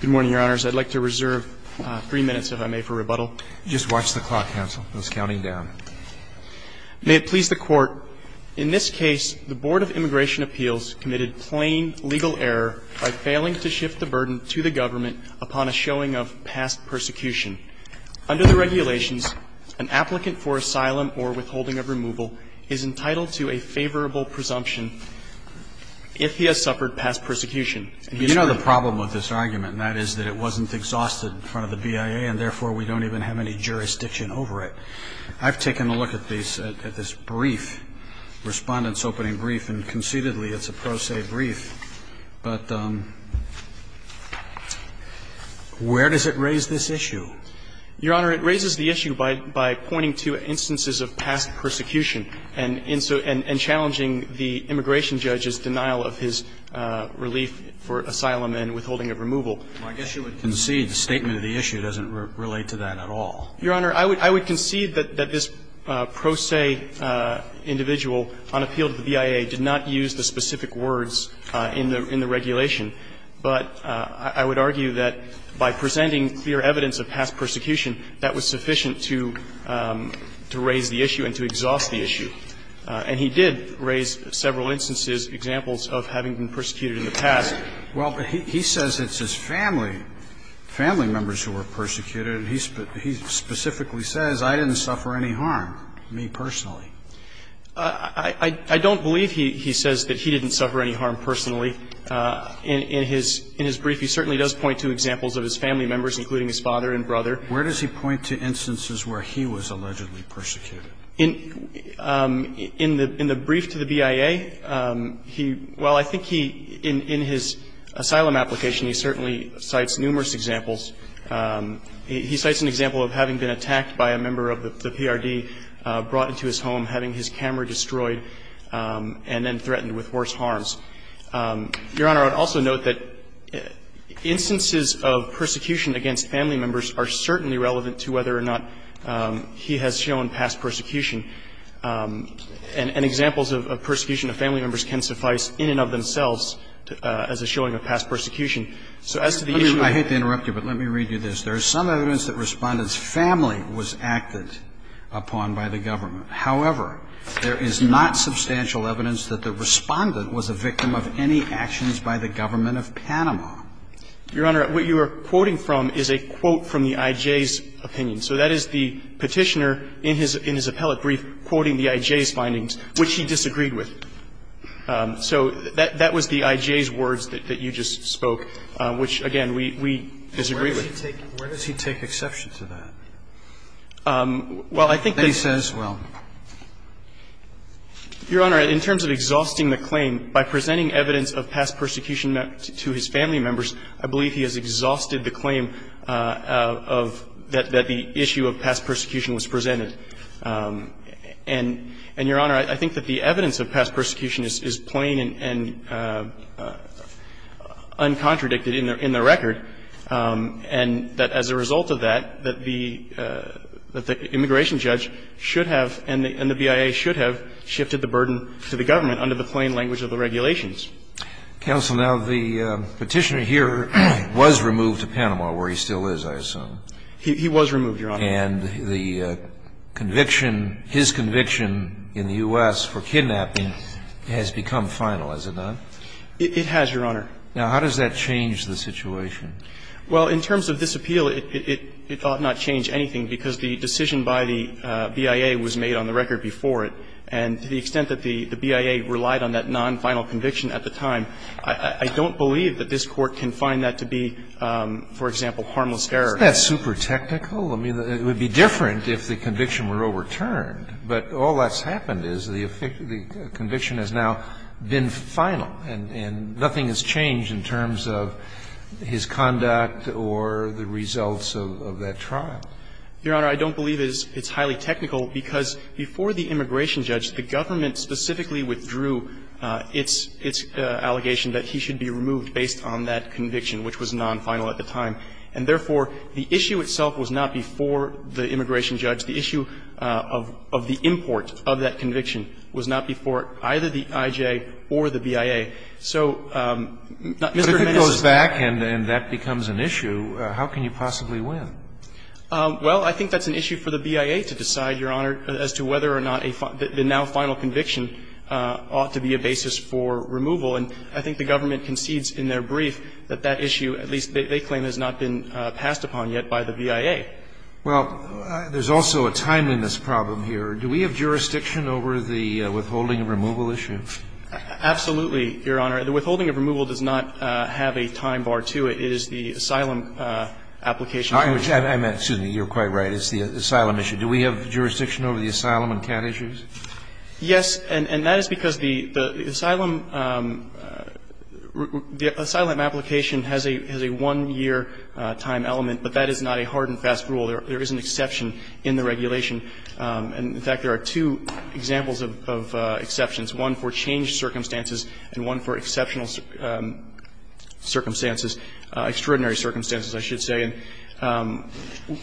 Good morning, Your Honors. I'd like to reserve three minutes, if I may, for rebuttal. Just watch the clock, counsel. I was counting down. May it please the Court, in this case, the Board of Immigration Appeals committed plain legal error by failing to shift the burden to the government upon a showing of past persecution. Under the regulations, an applicant for asylum or withholding of removal is entitled to a favorable presumption if he has suffered past persecution. You know the problem with this argument, and that is that it wasn't exhausted in front of the BIA, and therefore we don't even have any jurisdiction over it. I've taken a look at this brief, Respondent's Opening Brief, and conceitedly it's a pro se brief. But where does it raise this issue? Your Honor, it raises the issue by pointing to instances of past persecution and challenging the immigration judge's denial of his relief for asylum and withholding of removal. Well, I guess you would concede the statement of the issue doesn't relate to that at all. Your Honor, I would concede that this pro se individual on appeal to the BIA did not use the specific words in the regulation. But I would argue that by presenting clear evidence of past persecution, that was sufficient to raise the issue and to exhaust the issue. And he did raise several instances, examples of having been persecuted in the past. Well, but he says it's his family, family members who were persecuted. He specifically says, I didn't suffer any harm, me personally. I don't believe he says that he didn't suffer any harm personally. In his brief, he certainly does point to examples of his family members, including his father and brother. Where does he point to instances where he was allegedly persecuted? In the brief to the BIA, he – well, I think he, in his asylum application, he certainly cites numerous examples. He cites an example of having been attacked by a member of the PRD, brought into his home, having his camera destroyed, and then threatened with worse harms. Your Honor, I would also note that instances of persecution against family members are certainly relevant to whether or not he has shown past persecution, and examples of persecution of family members can suffice in and of themselves as a showing of past persecution. So as to the issue of – I hate to interrupt you, but let me read you this. There is some evidence that Respondent's family was acted upon by the government. However, there is not substantial evidence that the Respondent was a victim of any actions by the government of Panama. Your Honor, what you are quoting from is a quote from the IJ's opinion. So that is the Petitioner in his appellate brief quoting the IJ's findings, which he disagreed with. So that was the IJ's words that you just spoke, which, again, we disagree with. Where does he take exception to that? Well, I think that he says, well, Your Honor, in terms of exhausting the claim by presenting evidence of past persecution to his family members, I believe he has exhausted the claim of – that the issue of past persecution was presented. And, Your Honor, I think that the evidence of past persecution is plain and uncontradicted in the record, and that as a result of that, that the immigration judge should have and the BIA should have shifted the burden to the government under the plain language of the regulations. Counsel, now, the Petitioner here was removed to Panama, where he still is, I assume. He was removed, Your Honor. And the conviction, his conviction in the U.S. for kidnapping has become final, has it not? It has, Your Honor. Now, how does that change the situation? Well, in terms of this appeal, it ought not change anything, because the decision by the BIA was made on the record before it. And to the extent that the BIA relied on that non-final conviction at the time, I don't believe that this Court can find that to be, for example, harmless error. Isn't that super technical? I mean, it would be different if the conviction were overturned. But all that's happened is the conviction has now been final, and nothing has changed in terms of his conduct or the results of that trial. Your Honor, I don't believe it's highly technical, because before the immigration judge, the government specifically withdrew its allegation that he should be removed based on that conviction, which was non-final at the time. And therefore, the issue itself was not before the immigration judge. The issue of the import of that conviction was not before either the IJ or the BIA. So, Mr. Domenico. But if it goes back and that becomes an issue, how can you possibly win? Well, I think that's an issue for the BIA to decide, Your Honor, as to whether or not the now-final conviction ought to be a basis for removal. And I think the government concedes in their brief that that issue, at least they claim, has not been passed upon yet by the BIA. Well, there's also a timeliness problem here. Do we have jurisdiction over the withholding of removal issue? Absolutely, Your Honor. The withholding of removal does not have a time bar to it. It is the asylum application. Excuse me. You're quite right. It's the asylum issue. Do we have jurisdiction over the asylum and cat issues? Yes. And that is because the asylum application has a one-year time element, but that is not a hard and fast rule. There is an exception in the regulation. And, in fact, there are two examples of exceptions, one for changed circumstances and one for exceptional circumstances, extraordinary circumstances, I should say. And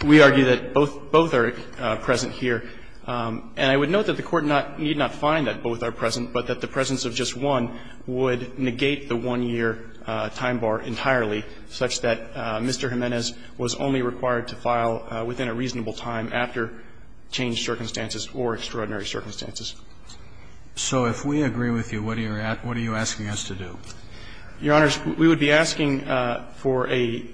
we argue that both are present here. And I would note that the Court need not find that both are present, but that the presence of just one would negate the one-year time bar entirely, such that Mr. Jimenez was only required to file within a reasonable time after changed circumstances or extraordinary circumstances. So if we agree with you, what are you asking us to do? Your Honors, we would be asking for a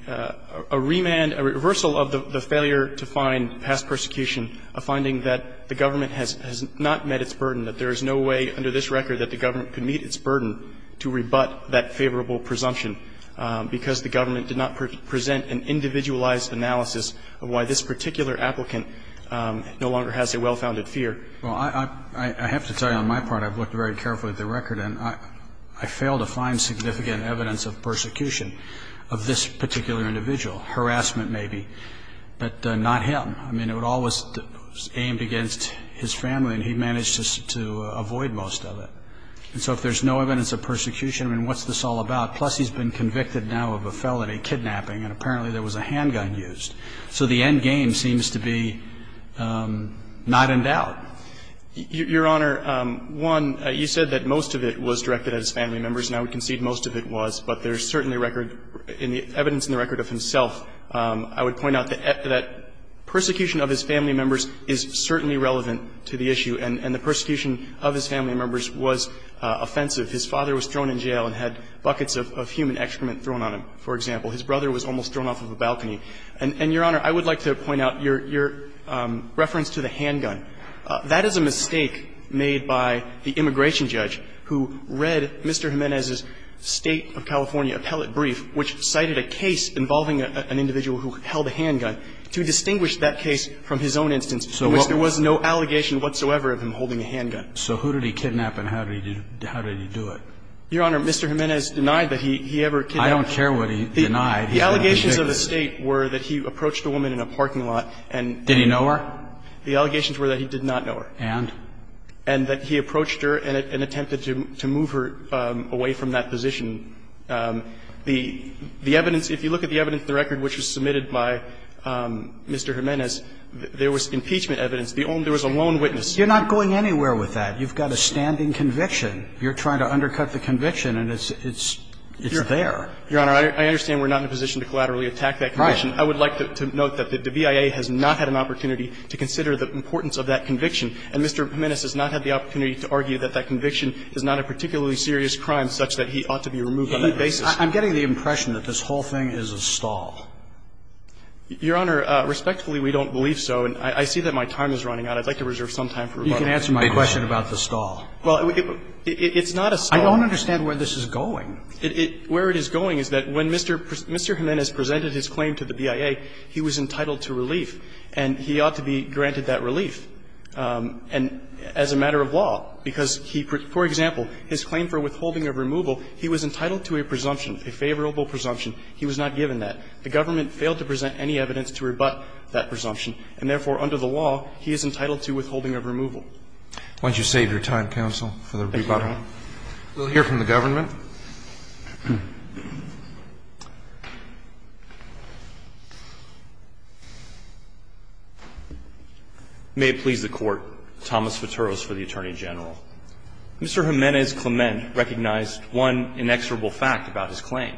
remand, a reversal of the failure to find past persecution, a finding that the government has not met its burden, that there is no way under this record that the government could meet its burden to rebut that favorable presumption because the government did not present an individualized analysis of why this particular applicant no longer has a well-founded fear. Well, I have to tell you on my part, I've looked very carefully at the record, and I fail to find significant evidence of persecution of this particular individual, harassment maybe, but not him. I mean, it all was aimed against his family, and he managed to avoid most of it. And so if there's no evidence of persecution, I mean, what's this all about? Plus he's been convicted now of a felony, kidnapping, and apparently there was a handgun So the end game seems to be not in doubt. Your Honor, one, you said that most of it was directed at his family members, and I would concede most of it was, but there's certainly record in the evidence in the record of himself. I would point out that persecution of his family members is certainly relevant to the issue, and the persecution of his family members was offensive. His father was thrown in jail and had buckets of human excrement thrown on him, for And, Your Honor, I would like to point out your reference to the handgun. That is a mistake made by the immigration judge who read Mr. Jimenez's State of California appellate brief, which cited a case involving an individual who held a handgun, to distinguish that case from his own instance in which there was no allegation whatsoever of him holding a handgun. So who did he kidnap and how did he do it? Your Honor, Mr. Jimenez denied that he ever kidnapped I don't care what he denied. The allegations of the State were that he approached a woman in a parking lot and Did he know her? The allegations were that he did not know her. And? And that he approached her and attempted to move her away from that position. The evidence, if you look at the evidence in the record which was submitted by Mr. Jimenez, there was impeachment evidence. There was a lone witness. You're not going anywhere with that. You've got a standing conviction. You're trying to undercut the conviction, and it's there. Your Honor, I understand we're not in a position to collaterally attack that conviction. Right. I would like to note that the BIA has not had an opportunity to consider the importance of that conviction. And Mr. Jimenez has not had the opportunity to argue that that conviction is not a particularly serious crime such that he ought to be removed on that basis. I'm getting the impression that this whole thing is a stall. Your Honor, respectfully, we don't believe so. And I see that my time is running out. I'd like to reserve some time for rebuttal. You can answer my question about the stall. Well, it's not a stall. I don't understand where this is going. Where it is going is that when Mr. Jimenez presented his claim to the BIA, he was entitled to relief, and he ought to be granted that relief. And as a matter of law, because he, for example, his claim for withholding of removal, he was entitled to a presumption, a favorable presumption. He was not given that. The government failed to present any evidence to rebut that presumption, and therefore under the law, he is entitled to withholding of removal. Why don't you save your time, counsel, for the rebuttal? Thank you, Your Honor. We'll hear from the government. May it please the Court. Thomas Futuros for the Attorney General. Mr. Jimenez Clement recognized one inexorable fact about his claim.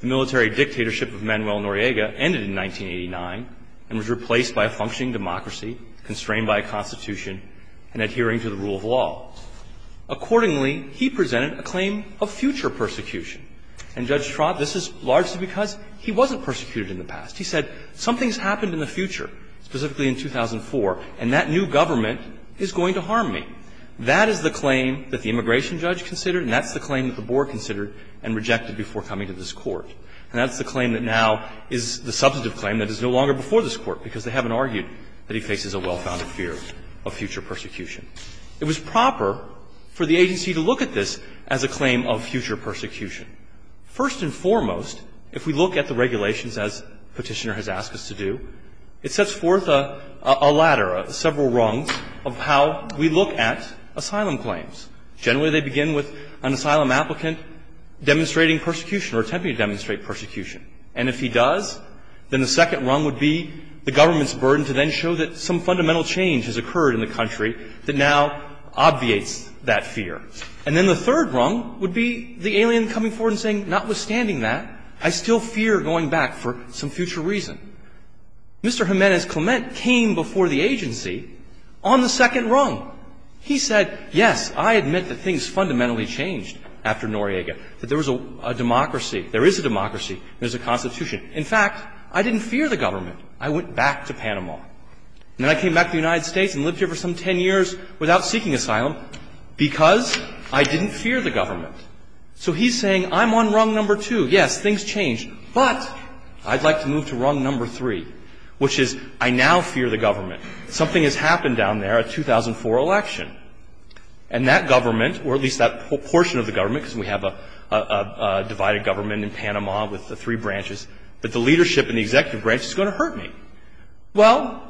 The military dictatorship of Manuel Noriega ended in 1989 and was replaced by a functioning democracy, constrained by a constitution, and adhering to the rule of law. Accordingly, he presented a claim of future persecution. And Judge Trott, this is largely because he wasn't persecuted in the past. He said something's happened in the future, specifically in 2004, and that new government is going to harm me. That is the claim that the immigration judge considered, and that's the claim that the board considered and rejected before coming to this Court. And that's the claim that now is the substantive claim that is no longer before this Court, because they haven't argued that he faces a well-founded fear of future persecution. It was proper for the agency to look at this as a claim of future persecution. First and foremost, if we look at the regulations, as Petitioner has asked us to do, it sets forth a ladder, several rungs, of how we look at asylum claims. Generally, they begin with an asylum applicant demonstrating persecution or attempting to demonstrate persecution. And if he does, then the second rung would be the government's burden to then show that some fundamental change has occurred in the country that now obviates that fear. And then the third rung would be the alien coming forward and saying, notwithstanding that, I still fear going back for some future reason. Mr. Jimenez-Clement came before the agency on the second rung. He said, yes, I admit that things fundamentally changed after Noriega, that there was a democracy, there is a democracy, there's a Constitution. In fact, I didn't fear the government. I went back to Panama. And then I came back to the United States and lived here for some ten years without seeking asylum because I didn't fear the government. So he's saying, I'm on rung number two. Yes, things changed. But I'd like to move to rung number three, which is I now fear the government. Something has happened down there, a 2004 election. And that government, or at least that portion of the government, because we have a divided government in Panama with the three branches, but the leadership and the Well,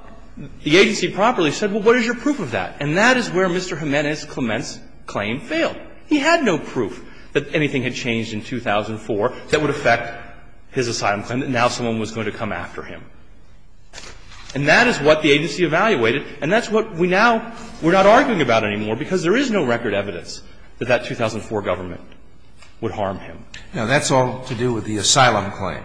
the agency promptly said, well, what is your proof of that? And that is where Mr. Jimenez-Clement's claim failed. He had no proof that anything had changed in 2004 that would affect his asylum claim, that now someone was going to come after him. And that is what the agency evaluated. And that's what we now we're not arguing about anymore because there is no record evidence that that 2004 government would harm him. Now, that's all to do with the asylum claim.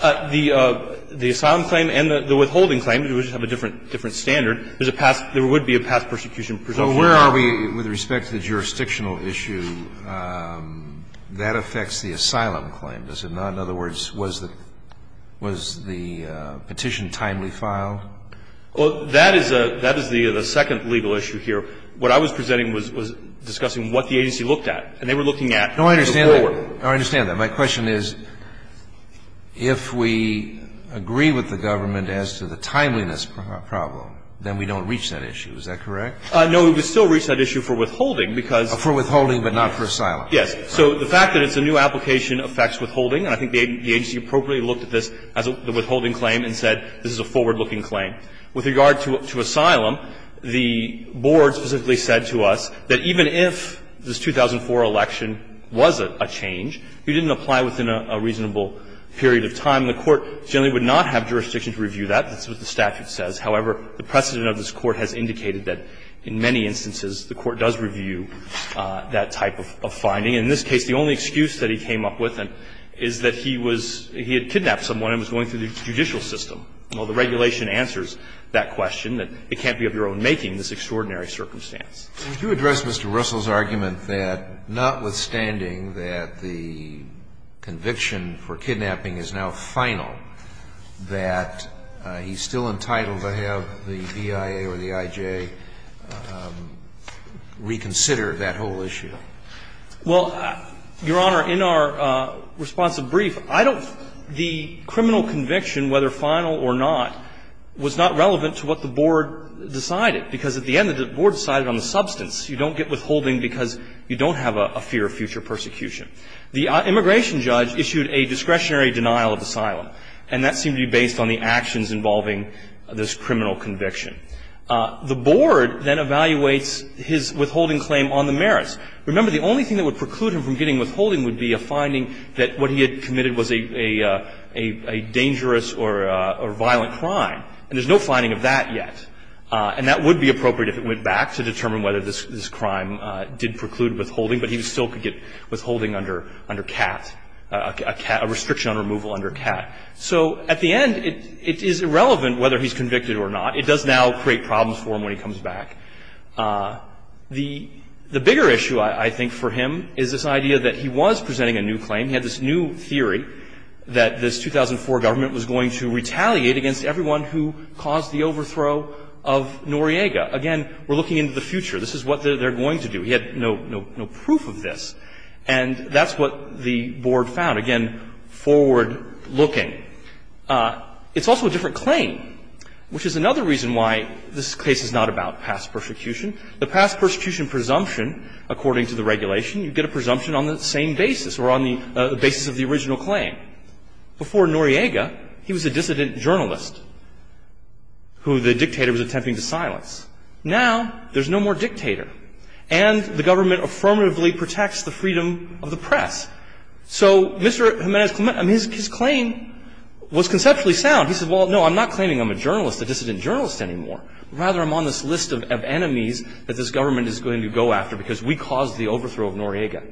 The asylum claim and the withholding claim, they just have a different standard. There's a past – there would be a past persecution presumption. So where are we with respect to the jurisdictional issue? That affects the asylum claim, does it not? In other words, was the petition timely filed? Well, that is the second legal issue here. What I was presenting was discussing what the agency looked at. And they were looking at the court. No, I understand that. My question is, if we agree with the government as to the timeliness problem, then we don't reach that issue, is that correct? No, we still reach that issue for withholding because – For withholding but not for asylum. Yes. So the fact that it's a new application affects withholding. And I think the agency appropriately looked at this as a withholding claim and said this is a forward-looking claim. With regard to asylum, the board specifically said to us that even if this 2004 election was a change, if you didn't apply within a reasonable period of time, the court generally would not have jurisdiction to review that. That's what the statute says. However, the precedent of this Court has indicated that in many instances, the Court does review that type of finding. And in this case, the only excuse that he came up with is that he was – he had kidnapped someone and was going through the judicial system. Well, the regulation answers that question, that it can't be of your own making, this extraordinary circumstance. Would you address Mr. Russell's argument that notwithstanding that the conviction for kidnapping is now final, that he's still entitled to have the BIA or the IJ reconsider that whole issue? Well, Your Honor, in our responsive brief, I don't – the criminal conviction, whether final or not, was not relevant to what the board decided. Because at the end, the board decided on the substance. You don't get withholding because you don't have a fear of future persecution. The immigration judge issued a discretionary denial of asylum, and that seemed to be based on the actions involving this criminal conviction. The board then evaluates his withholding claim on the merits. Remember, the only thing that would preclude him from getting withholding would be a finding that what he had committed was a dangerous or violent crime. And there's no finding of that yet. And that would be appropriate if it went back to determine whether this crime did preclude withholding, but he still could get withholding under CAT, a restriction on removal under CAT. So at the end, it is irrelevant whether he's convicted or not. It does now create problems for him when he comes back. The bigger issue, I think, for him is this idea that he was presenting a new claim. He had this new theory that this 2004 government was going to retaliate against everyone who caused the overthrow of Noriega. Again, we're looking into the future. This is what they're going to do. He had no proof of this. And that's what the board found. Again, forward-looking. It's also a different claim, which is another reason why this case is not about past persecution. The past persecution presumption, according to the regulation, you get a presumption on the same basis or on the basis of the original claim. Before Noriega, he was a dissident journalist who the dictator was attempting to silence. Now, there's no more dictator, and the government affirmatively protects the freedom of the press. So Mr. Jimenez's claim was conceptually sound. He said, well, no, I'm not claiming I'm a journalist, a dissident journalist anymore. Rather, I'm on this list of enemies that this government is going to go after because we caused the overthrow of Noriega.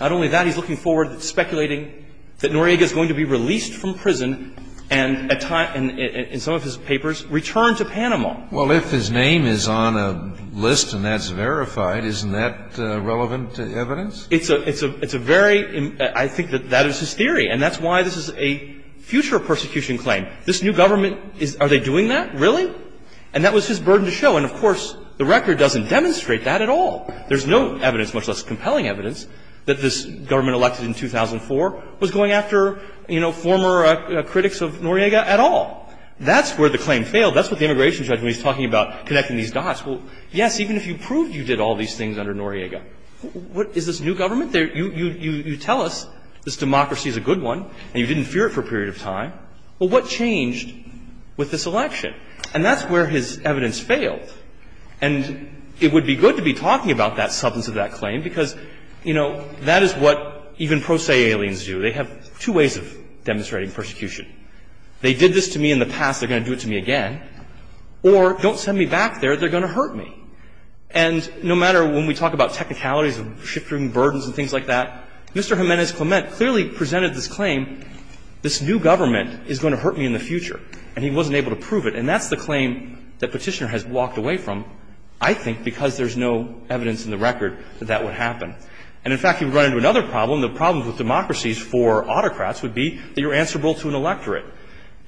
Not only that, he's looking forward, speculating that Noriega is going to be released from prison and, in some of his papers, returned to Panama. Well, if his name is on a list and that's verified, isn't that relevant evidence? It's a very – I think that that is his theory. And that's why this is a future persecution claim. This new government, are they doing that? Really? And that was his burden to show. And, of course, the record doesn't demonstrate that at all. There's no evidence, much less compelling evidence, that this government elected in 2004 was going after, you know, former critics of Noriega at all. That's where the claim failed. That's what the immigration judge, when he's talking about connecting these dots, well, yes, even if you proved you did all these things under Noriega, what – is this new government? You tell us this democracy is a good one and you didn't fear it for a period of time. Well, what changed with this election? And that's where his evidence failed. And it would be good to be talking about that substance of that claim because, you know, that is what even pro se aliens do. They have two ways of demonstrating persecution. They did this to me in the past. They're going to do it to me again. Or don't send me back there. They're going to hurt me. And no matter when we talk about technicalities and shifting burdens and things like that, Mr. Jimenez-Clement clearly presented this claim, this new government is going to hurt me in the future, and he wasn't able to prove it. And that's the claim that Petitioner has walked away from, I think, because there's no evidence in the record that that would happen. And, in fact, you run into another problem. The problem with democracies for autocrats would be that you're answerable to an electorate.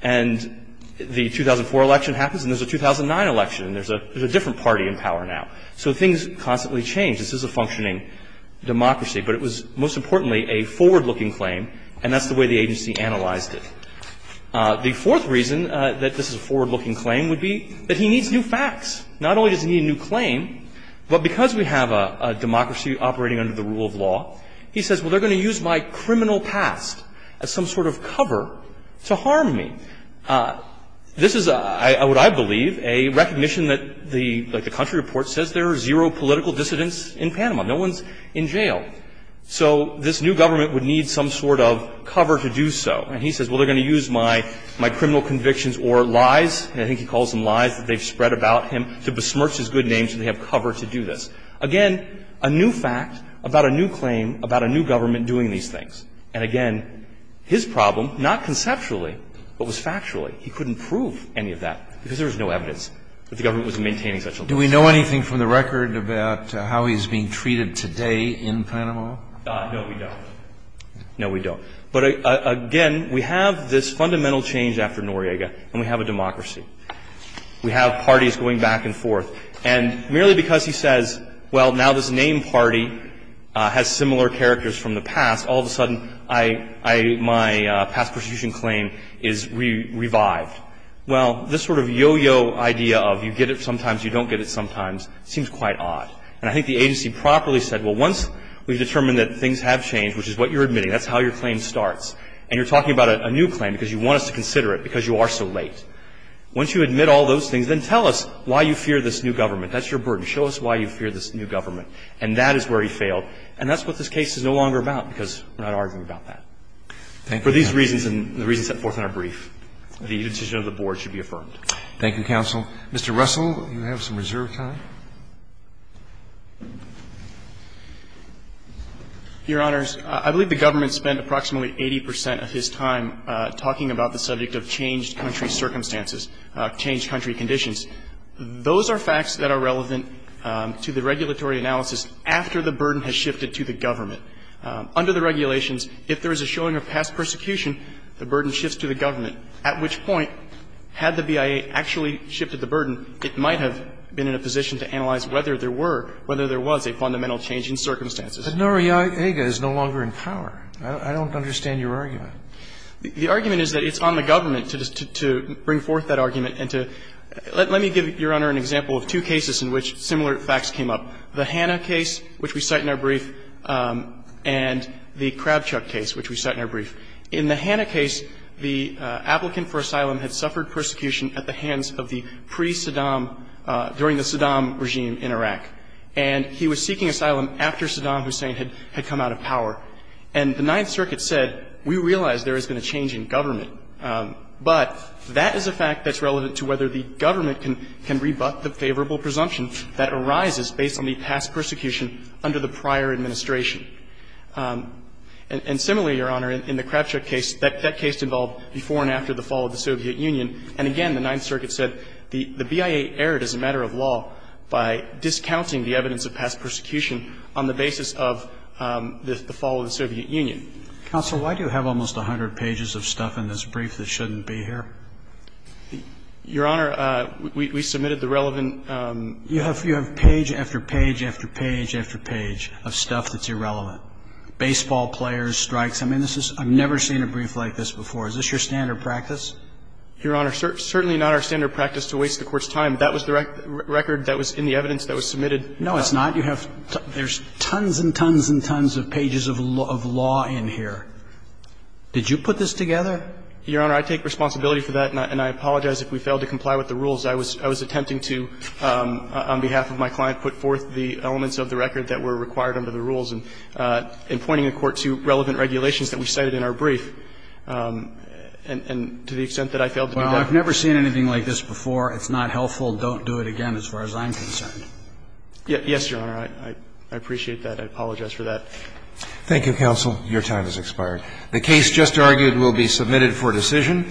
And the 2004 election happens and there's a 2009 election and there's a different party in power now. So things constantly change. This is a functioning democracy. But it was, most importantly, a forward-looking claim, and that's the way the agency analyzed it. The fourth reason that this is a forward-looking claim would be that he needs new facts. Not only does he need a new claim, but because we have a democracy operating under the rule of law, he says, well, they're going to use my criminal past as some sort of cover to harm me. This is, I believe, a recognition that the country report says there are zero political dissidents in Panama. No one's in jail. So this new government would need some sort of cover to do so. And he says, well, they're going to use my criminal convictions or lies, and I think he calls them lies, that they've spread about him to besmirch his good name so they have cover to do this. Again, a new fact about a new claim about a new government doing these things. And, again, his problem, not conceptually, but was factually, he couldn't prove any of that because there was no evidence that the government was maintaining such a law. Do we know anything from the record about how he's being treated today in Panama? No, we don't. No, we don't. But, again, we have this fundamental change after Noriega, and we have a democracy. We have parties going back and forth. And merely because he says, well, now this named party has similar characters from the past, all of a sudden, I, my past prosecution claim is revived. Well, this sort of yo-yo idea of you get it sometimes, you don't get it sometimes seems quite odd. And I think the agency properly said, well, once we've determined that things have been going on for a while, that's when the decision starts. And you're talking about a new claim because you want us to consider it because you are so late. Once you admit all those things, then tell us why you fear this new government. That's your burden. Show us why you fear this new government. And that is where he failed. And that's what this case is no longer about, because we're not arguing about that. For these reasons and the reasons set forth in our brief, the decision of the board should be affirmed. Thank you, counsel. Mr. Russell, you have some reserve time. Your Honors, I believe the government spent approximately 80 percent of his time talking about the subject of changed country circumstances, changed country conditions. Those are facts that are relevant to the regulatory analysis after the burden has shifted to the government. Under the regulations, if there is a showing of past persecution, the burden shifts to the government, at which point, had the BIA actually shifted the burden, it might have been in a position to analyze whether there were, whether there was a fundamental change in circumstances. But Noriega is no longer in power. I don't understand your argument. The argument is that it's on the government to bring forth that argument and to – let me give Your Honor an example of two cases in which similar facts came up, the Hanna case, which we cite in our brief, and the Krabchuk case, which we cite in our brief. In the Hanna case, the applicant for asylum had suffered persecution at the hands of the pre-Saddam – during the Saddam regime in Iraq. And he was seeking asylum after Saddam Hussein had come out of power. And the Ninth Circuit said, we realize there has been a change in government, but that is a fact that's relevant to whether the government can rebut the favorable presumption that arises based on the past persecution under the prior administration. And similarly, Your Honor, in the Krabchuk case, that case involved before and after the fall of the Soviet Union. And again, the Ninth Circuit said the BIA erred as a matter of law by discounting the evidence of past persecution on the basis of the fall of the Soviet Union. Counsel, why do you have almost 100 pages of stuff in this brief that shouldn't be here? Your Honor, we submitted the relevant – You have page after page after page after page of stuff that's irrelevant. Baseball players, strikes. I mean, this is – I've never seen a brief like this before. Is this your standard practice? Your Honor, certainly not our standard practice to waste the Court's time. That was the record that was in the evidence that was submitted. No, it's not. You have – there's tons and tons and tons of pages of law in here. Did you put this together? Your Honor, I take responsibility for that, and I apologize if we failed to comply with the rules. I was attempting to, on behalf of my client, put forth the elements of the record that were required under the rules and pointing the Court to relevant regulations that we cited in our brief. And to the extent that I failed to do that – Well, I've never seen anything like this before. It's not helpful. Don't do it again as far as I'm concerned. Yes, Your Honor. I appreciate that. I apologize for that. Thank you, Counsel. Your time has expired. The case just argued will be submitted for decision.